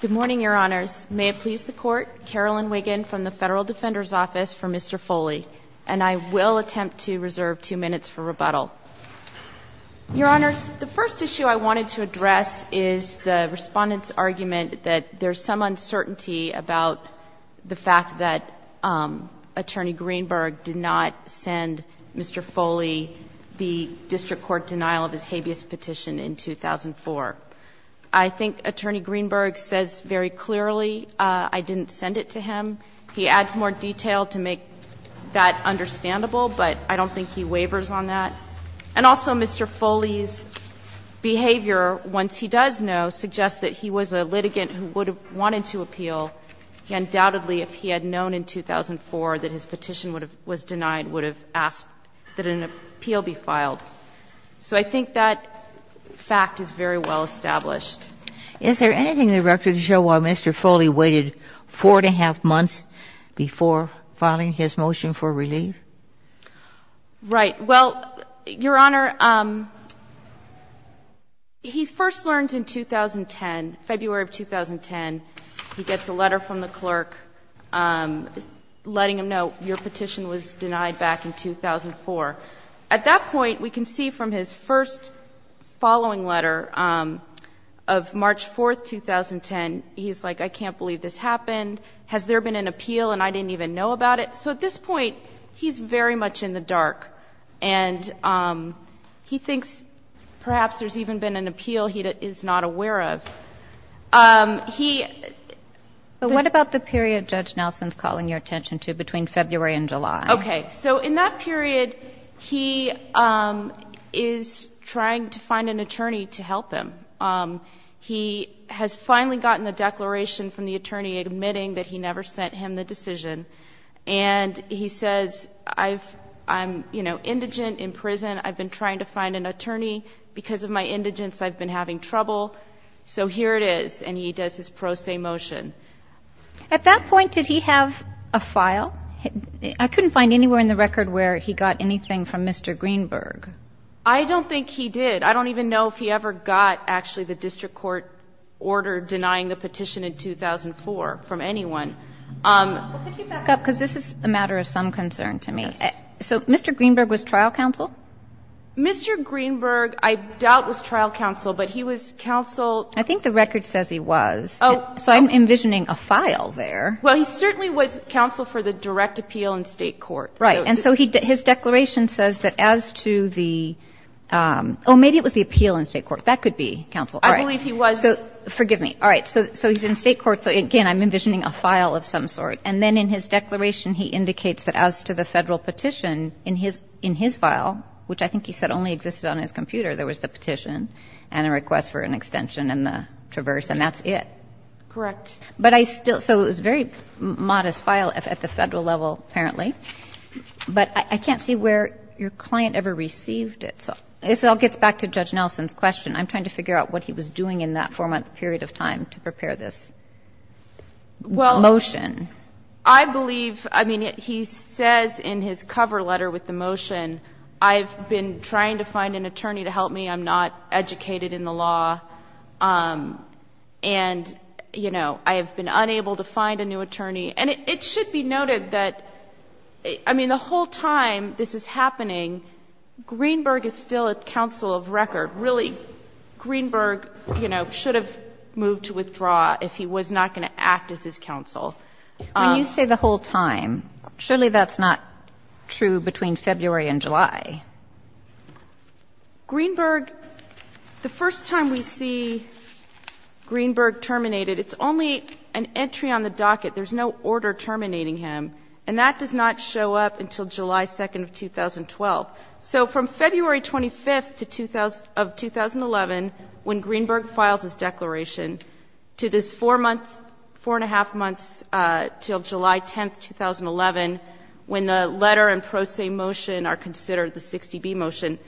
Good morning, Your Honors. May it please the Court, Carolyn Wiggin from the Federal Defender's Office for Mr. Foley, and I will attempt to reserve two minutes for rebuttal. Your Honors, the first issue I wanted to address is the Respondent's argument that there's some uncertainty about the fact that Attorney Greenberg did not send Mr. Foley the district court denial of his habeas petition in 2004. I think Attorney Greenberg says very clearly, I didn't send it to him. He adds more detail to make that understandable, but I don't think he waivers on that. And also Mr. Foley's behavior, once he does know, suggests that he was a litigant who would have wanted to appeal, undoubtedly if he had known in 2004 that his petition was denied, would have asked that an appeal be filed. So I think that fact is very well established. Is there anything in the record to show why Mr. Foley waited 4 1⁄2 months before filing his motion for relief? Right. Well, Your Honor, he first learns in 2010, February of 2010, he gets a letter from the clerk letting him know your petition was denied back in 2004. At that point, we can see from his first following letter of March 4, 2010, he's like, I can't believe this happened. Has there been an appeal and I didn't even know about it? So at this point, he's very much in the dark, and he thinks perhaps there's even been an appeal he is not aware of. He ---- But what about the period Judge Nelson's calling your attention to between February and July? Okay. So in that period, he is trying to find an attorney to help him. He has finally gotten the declaration from the attorney admitting that he never sent him the decision. And he says, I'm indigent, in prison, I've been trying to find an attorney. Because of my indigence, I've been having trouble. So here it is. And he does his pro se motion. At that point, did he have a file? I couldn't find anywhere in the record where he got anything from Mr. Greenberg. I don't think he did. I don't even know if he ever got actually the district court order denying the petition in 2004 from anyone. Could you back up? Because this is a matter of some concern to me. So Mr. Greenberg was trial counsel? Mr. Greenberg, I doubt, was trial counsel, but he was counsel ---- I think the record says he was. So I'm envisioning a file there. Well, he certainly was counsel for the direct appeal in State court. Right. And so his declaration says that as to the ---- oh, maybe it was the appeal in State court. That could be counsel. I believe he was. So forgive me. All right. So he's in State court. So again, I'm envisioning a file of some sort. And then in his declaration, he indicates that as to the Federal petition in his file, which I think he said only existed on his computer, there was the petition and a request for an extension and the traverse, and that's it. Correct. But I still ---- so it was a very modest file at the Federal level, apparently. But I can't see where your client ever received it. So this all gets back to Judge Nelson's question. I'm trying to figure out what he was doing in that 4-month period of time to prepare this motion. Well, I believe ---- I mean, he says in his cover letter with the motion, I've been trying to find an attorney to help me. I'm not educated in the law. And, you know, I have been unable to find a new attorney. And it should be noted that, I mean, the whole time this is happening, Greenberg is still a counsel of record. Really, Greenberg, you know, should have moved to withdraw if he was not going to act as his counsel. When you say the whole time, surely that's not true between February and July. Greenberg, the first time we see Greenberg terminated, it's only an entry on the docket. There's no order terminating him. And that does not show up until July 2nd of 2012. So from February 25th of 2011, when Greenberg files his declaration, to this 4 months, 4-1-1-2 months, until July 10th, 2011, when the letter and pro se motion are considered the 60B motion,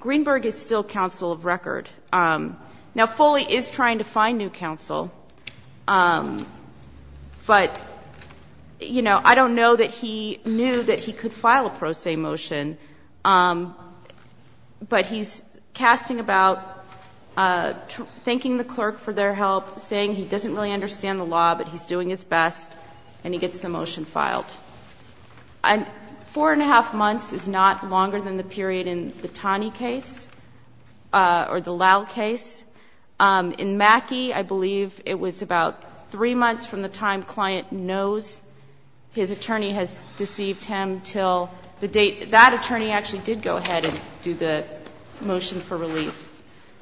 Greenberg is still counsel of record. Now, Foley is trying to find new counsel. But, you know, I don't know that he knew that he could file a pro se motion. But he's casting about, thanking the clerk for their help, saying he doesn't really understand the law, but he's doing his best, and he gets the motion filed. And 4-1-1-2 months is not longer than the period in the Taney case or the Lowe case. In Mackey, I believe it was about 3 months from the time client knows his attorney has deceived him until the date that attorney actually did go ahead and do the motion So we don't know.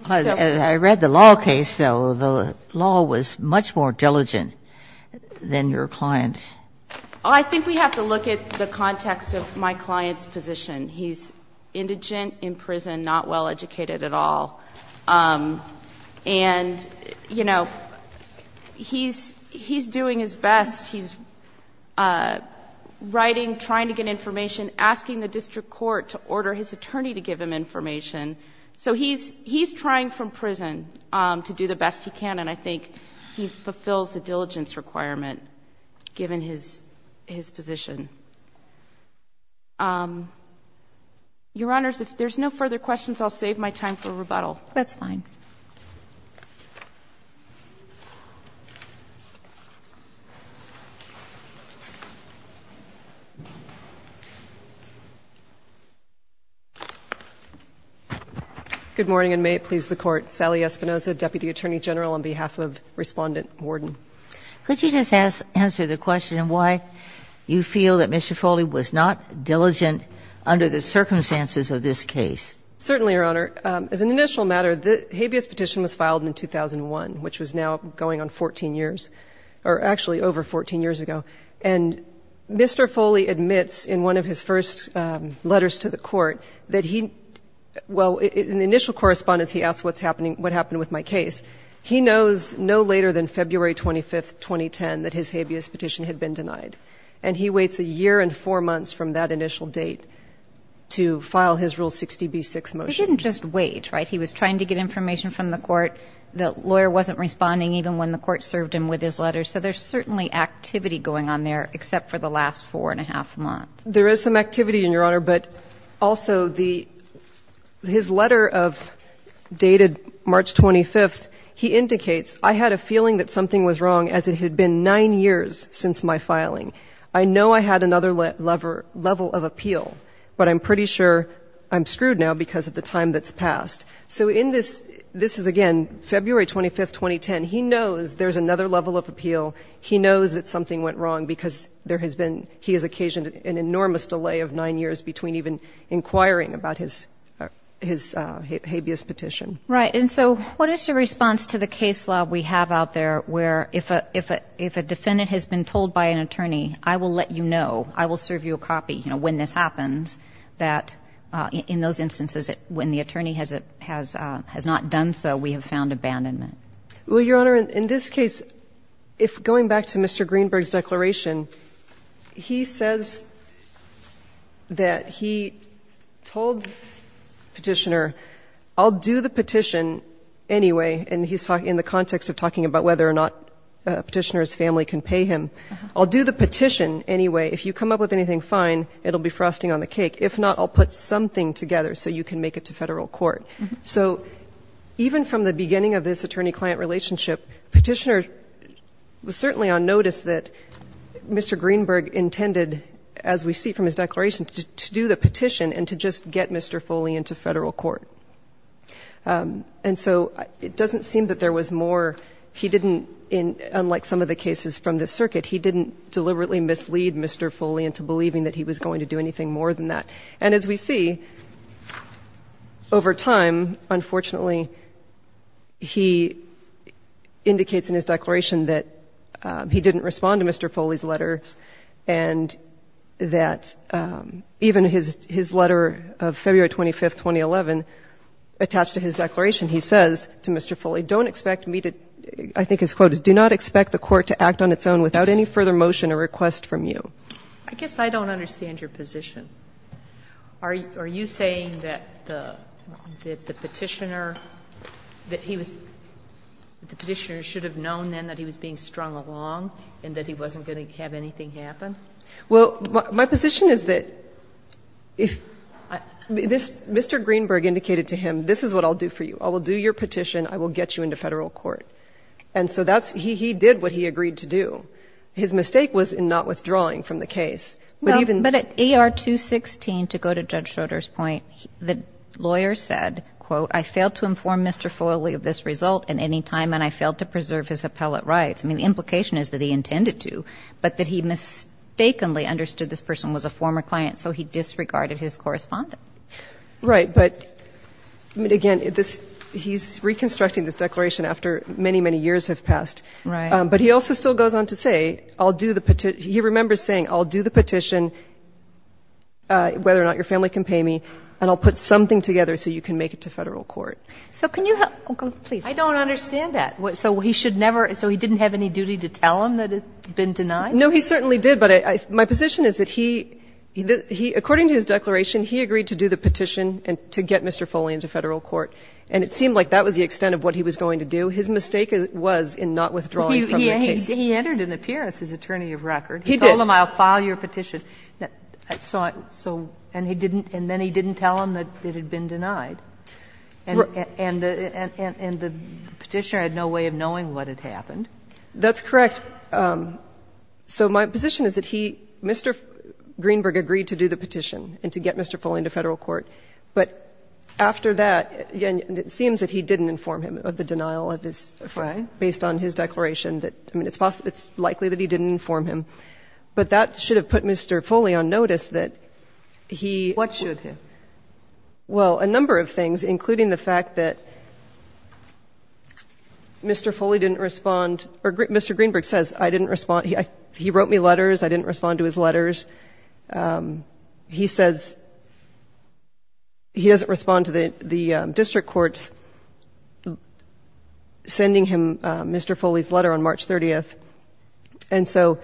Ginsburg, I read the Lowe case, though, the Lowe was much more diligent than your client. I think we have to look at the context of my client's position. He's indigent, in prison, not well-educated at all, and, you know, he's doing his best, he's writing, trying to get information, asking the district court to order his attorney to give him information. So he's trying from prison to do the best he can, and I think he fulfills the diligence requirement given his position. Your Honors, if there's no further questions, I'll save my time for rebuttal. That's fine. Good morning, and may it please the Court. Sally Espinosa, Deputy Attorney General, on behalf of Respondent Worden. Could you just answer the question of why you feel that Mr. Foley was not diligent under the circumstances of this case? Certainly, Your Honor. As an initial matter, the habeas petition was filed in 2001, which was now going on 14 years, or actually over 14 years ago. And Mr. Foley admits in one of his first letters to the Court that he, well, in the initial correspondence, he asks what's happening, what happened with my case. He knows no later than February 25, 2010, that his habeas petition had been denied. And he waits a year and four months from that initial date to file his Rule 60b6 motion. He didn't just wait, right? He was trying to get information from the Court. The lawyer wasn't responding even when the Court served him with his letter. So there's certainly activity going on there, except for the last four and a half months. There is some activity, Your Honor. But also, his letter of dated March 25th, he indicates, I had a feeling that something was wrong, as it had been nine years since my filing. I know I had another level of appeal, but I'm pretty sure I'm screwed now because of the time that's passed. So in this, this is, again, February 25, 2010. He knows there's another level of appeal. He knows that something went wrong because there has been, he has occasioned an enormous delay of nine years between even inquiring about his habeas petition. Right. And so what is your response to the case law we have out there where if a defendant has been told by an attorney, I will let you know, I will serve you a copy, you know, when this happens, that in those instances, when the attorney has not done so, we have found abandonment? Well, Your Honor, in this case, if going back to Mr. Greenberg's declaration, he says that he told Petitioner, I'll do the petition anyway, and he's talking in the context of talking about whether or not Petitioner's family can pay him. I'll do the petition anyway, if you come up with anything fine, it'll be frosting on the cake. If not, I'll put something together so you can make it to Federal court. So even from the beginning of this attorney-client relationship, Petitioner was certainly on notice that Mr. Greenberg intended, as we see from his declaration, to do the petition and to just get Mr. Foley into Federal court. And so it doesn't seem that there was more. He didn't, unlike some of the cases from the circuit, he didn't deliberately mislead Mr. Foley into believing that he was going to do anything more than that. And as we see, over time, unfortunately, he indicates in his declaration that he didn't respond to Mr. Foley's letters and that even his letter of February 25, 2011, attached to his declaration, he says to Mr. Foley, don't expect me to, I think his quote is, do not expect the court to act on its own without any further motion or request from you. I guess I don't understand your position. Are you saying that the Petitioner, that he was, that the Petitioner should have known then that he was being strung along and that he wasn't going to have anything happen? Well, my position is that if, Mr. Greenberg indicated to him, this is what I'll do for you. I will do your petition. I will get you into Federal court. And so that's, he did what he agreed to do. His mistake was in not withdrawing from the case. But even. But at ER 216, to go to Judge Schroeder's point, the lawyer said, quote, I failed to inform Mr. Foley of this result at any time and I failed to preserve his appellate rights. I mean, the implication is that he intended to, but that he mistakenly understood this person was a former client, so he disregarded his correspondent. Right. But, I mean, again, this, he's reconstructing this declaration after many, many years have passed. Right. But he also still goes on to say, I'll do the, he remembers saying, I'll do the petition, whether or not your family can pay me, and I'll put something together so you can make it to Federal court. So can you help, I don't understand that. So he should never, so he didn't have any duty to tell him that it had been denied? No, he certainly did, but my position is that he, according to his declaration, he agreed to do the petition and to get Mr. Foley into Federal court. And it seemed like that was the extent of what he was going to do. His mistake was in not withdrawing from the case. He entered an appearance as attorney of record. He did. He told him, I'll file your petition. So, and he didn't, and then he didn't tell him that it had been denied. And the petitioner had no way of knowing what had happened. That's correct. So my position is that he, Mr. Greenberg agreed to do the petition and to get Mr. Foley into Federal court, but after that, it seems that he didn't inform him of the denial of his, based on his declaration that, I mean, it's likely that he didn't inform him, but that should have put Mr. Foley on notice that he. What should have? Well, a number of things, including the fact that Mr. Foley didn't respond or Mr. Greenberg says I didn't respond. He, he wrote me letters. I didn't respond to his letters. He says he doesn't respond to the, the district courts. Sending him Mr. Foley's letter on March 30th. And so,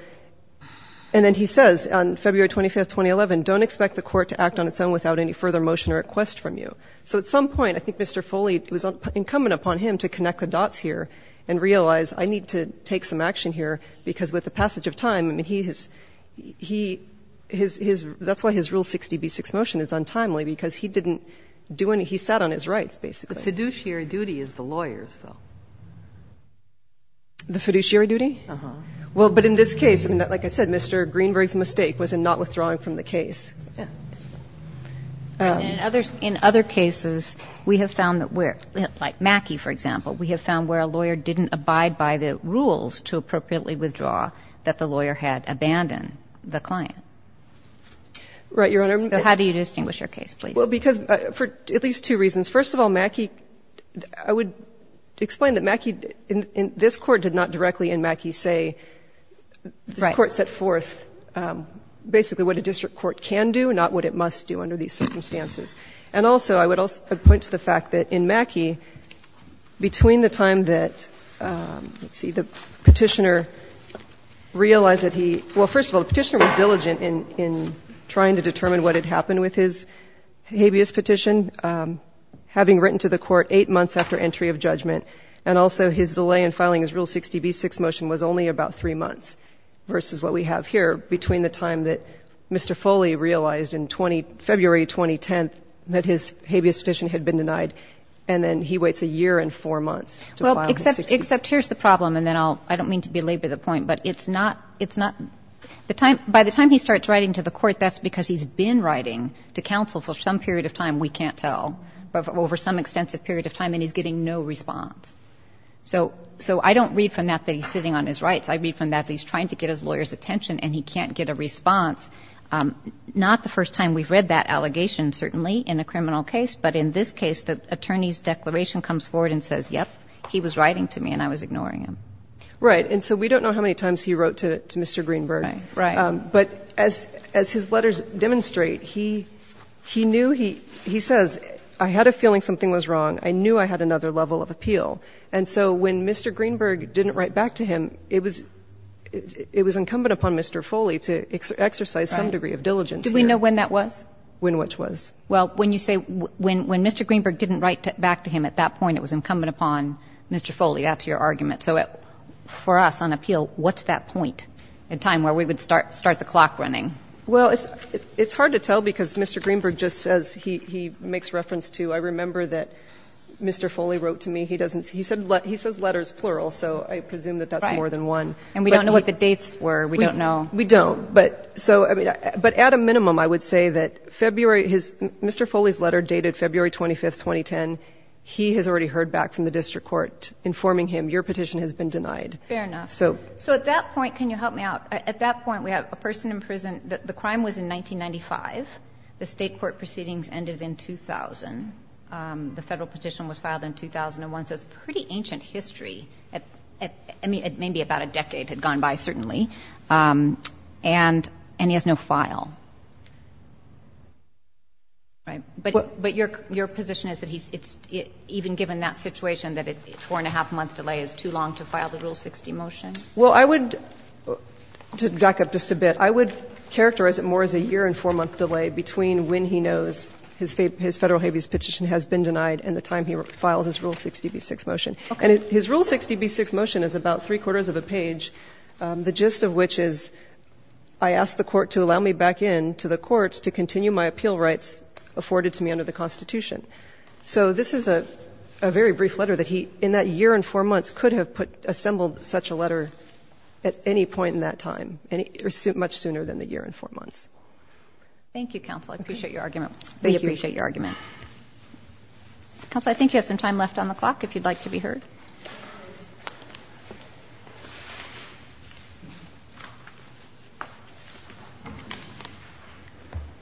and then he says on February 25th, 2011, don't expect the court to act on its own without any further motion or request from you. So at some point, I think Mr. Foley, it was incumbent upon him to connect the dots here and realize I need to take some action here, because with the passage of time, I mean, he has, he, his, his, that's why his Rule 60b-6 motion is untimely, because he didn't do any, he sat on his rights, basically. The fiduciary duty is the lawyers, though. The fiduciary duty? Uh-huh. Well, but in this case, I mean, like I said, Mr. Greenberg's mistake was in not withdrawing from the case. And in others, in other cases, we have found that where, like Mackey, for example, we have found where a lawyer didn't abide by the rules to appropriately withdraw, that the lawyer had abandoned the client. Right, Your Honor. So how do you distinguish your case, please? Well, because for at least two reasons. First of all, Mackey, I would explain that Mackey, in this Court did not directly in Mackey say, this Court set forth basically what a district court can do, not what it must do under these circumstances. And also, I would also point to the fact that in Mackey, between the time that, let's see, the Petitioner realized that he, well, first of all, the Petitioner was diligent in trying to determine what had happened with his habeas petition, having written to the Court 8 months after entry of judgment, and also his delay in filing his Rule 60b-6 motion was only about 3 months, versus what we have here, between the time that Mr. Foley realized in February 2010 that his habeas petition had been denied, and then he waits a year and 4 months to file his 60b-6. Well, except here's the problem, and then I'll — I don't mean to belabor the point, but it's not — it's not — by the time he starts writing to the Court, that's because he's been writing to counsel for some period of time, we can't tell, over some extensive period of time, and he's getting no response. So — so I don't read from that that he's sitting on his rights. I read from that that he's trying to get his lawyer's attention, and he can't get a response. Not the first time we've read that allegation, certainly, in a criminal case, but in this case, the attorney's declaration comes forward and says, yep, he was writing to me and I was ignoring him. Right. And so we don't know how many times he wrote to Mr. Greenberg. Right. Right. But as — as his letters demonstrate, he — he knew he — he says, I had a feeling something was wrong. I knew I had another level of appeal. And so when Mr. Greenberg didn't write back to him, it was — it was incumbent upon Mr. Foley to exercise some degree of diligence. Do we know when that was? When which was? Well, when you say — when — when Mr. Greenberg didn't write back to him, at that point, it was incumbent upon Mr. Foley. That's your argument. So for us, on appeal, what's that point in time where we would start — start the clock running? Well, it's — it's hard to tell because Mr. Greenberg just says — he — he makes reference to — I remember that Mr. Foley wrote to me. He doesn't — he said — he says letters, plural, so I presume that that's more than one. Right. And we don't know what the dates were. We don't know. We don't. But so — I mean, but at a minimum, I would say that February — his — Mr. Foley's letter dated February 25, 2010. He has already heard back from the district court informing him, your petition has been denied. Fair enough. So — So at that point — can you help me out? At that point, we have a person in prison — the crime was in 1995. The State court proceedings ended in 2000. The Federal petition was filed in 2001. So it's a pretty ancient history. I mean, maybe about a decade had gone by, certainly. And — and he has no file. Right? But — but your — your position is that he's — it's — even given that situation, that a four-and-a-half-month delay is too long to file the Rule 60 motion? Well, I would — to back up just a bit, I would characterize it more as a year-and-four-month delay between when he knows his — his federal habeas petition has been denied and the time he files his Rule 60b-6 motion. OK. And his Rule 60b-6 motion is about three-quarters of a page, the gist of which is, I ask the court to allow me back in to the courts to continue my appeal rights afforded to me under the Constitution. So this is a — a very brief letter that he, in that year and four months, could have put — assembled such a letter at any point in that time, any — or much sooner than the year and four months. Thank you, counsel. I appreciate your argument. Thank you. We appreciate your argument. Counsel, I think you have some time left on the clock, if you'd like to be heard.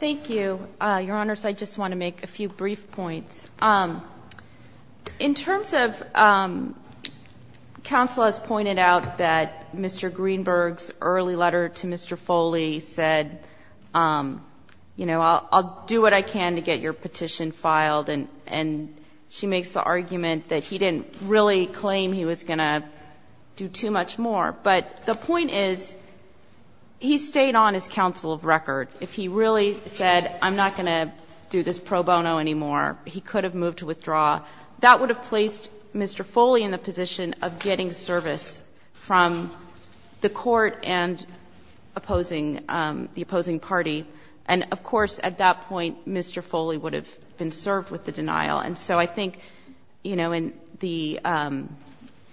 Thank you. Your Honors, I just want to make a few brief points. In terms of — counsel has pointed out that Mr. Greenberg's early letter to Mr. Foley said, you know, I'll do what I can to get your petition filed, and she makes the argument that he didn't really claim he was going to do too much more. But the point is, he stayed on as counsel of record. If he really said, I'm not going to do this pro bono anymore, he could have moved to withdraw. That would have placed Mr. Foley in the position of getting service from the court and opposing — the opposing party. And, of course, at that point, Mr. Foley would have been served with the denial. And so I think, you know, in the —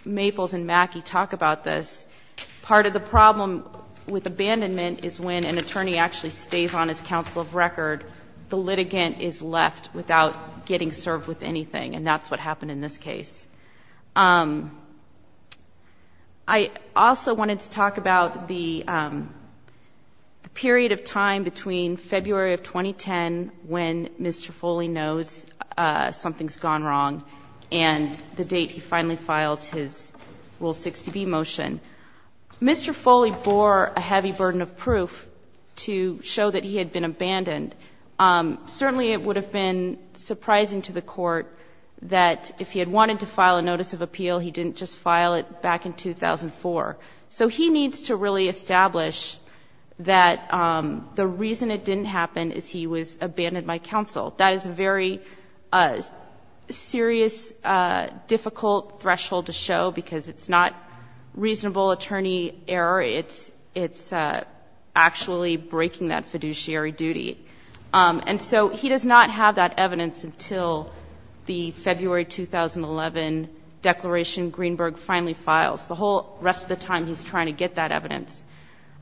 Maples and Mackey talk about this. Part of the problem with abandonment is when an attorney actually stays on as counsel of record, the litigant is left without getting served with anything, and that's what happened in this case. I also wanted to talk about the period of time between February of 2010, when Ms. Trifoli knows something's gone wrong, and the date he finally files his Rule 60B motion. Mr. Foley bore a heavy burden of proof to show that he had been abandoned. Certainly, it would have been surprising to the Court that if he had wanted to file a notice of appeal, he didn't just file it back in 2004. So he needs to really establish that the reason it didn't happen is he was abandoned by counsel. That is a very serious, difficult threshold to show, because it's not reasonable attorney error. It's actually breaking that fiduciary duty. And so he does not have that evidence until the February 2011 declaration Greenberg finally files. The whole rest of the time, he's trying to get that evidence.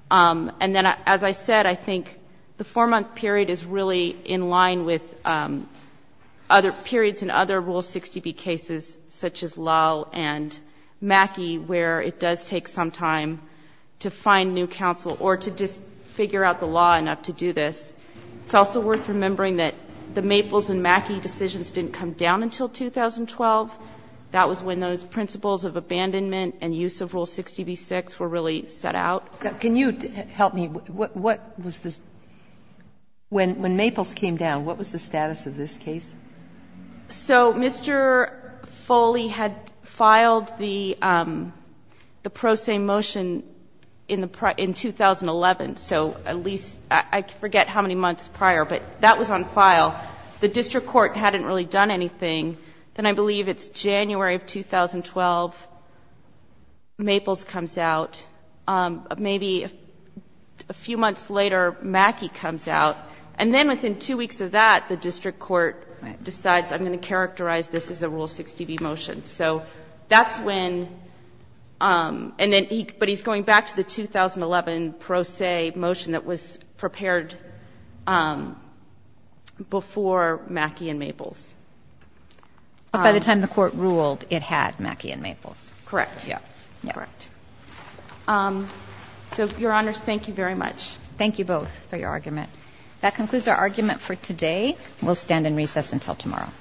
And then, as I said, I think the 4-month period is really in line with other periods in other Rule 60B cases, such as Lowe and Mackey, where it does take some time to find new counsel or to just figure out the law enough to do this. It's also worth remembering that the Maples and Mackey decisions didn't come down until 2012. That was when those principles of abandonment and use of Rule 60B-6 were really set out. Sotomayor, can you help me? What was the status of this case when Maples came down? What was the status of this case? So Mr. Foley had filed the pro se motion in the 2011, so at least I forget how many months prior, but that was on file. The district court hadn't really done anything. Then I believe it's January of 2012, Maples comes out. Maybe a few months later, Mackey comes out. And then within two weeks of that, the district court decides I'm going to characterize this as a Rule 60B motion. So that's when, and then he, but he's going back to the 2011 pro se motion that was prepared before Mackey and Maples. But by the time the Court ruled, it had Mackey and Maples. Correct. Correct. So, Your Honors, thank you very much. Thank you both for your argument. That concludes our argument for today. We'll stand in recess until tomorrow.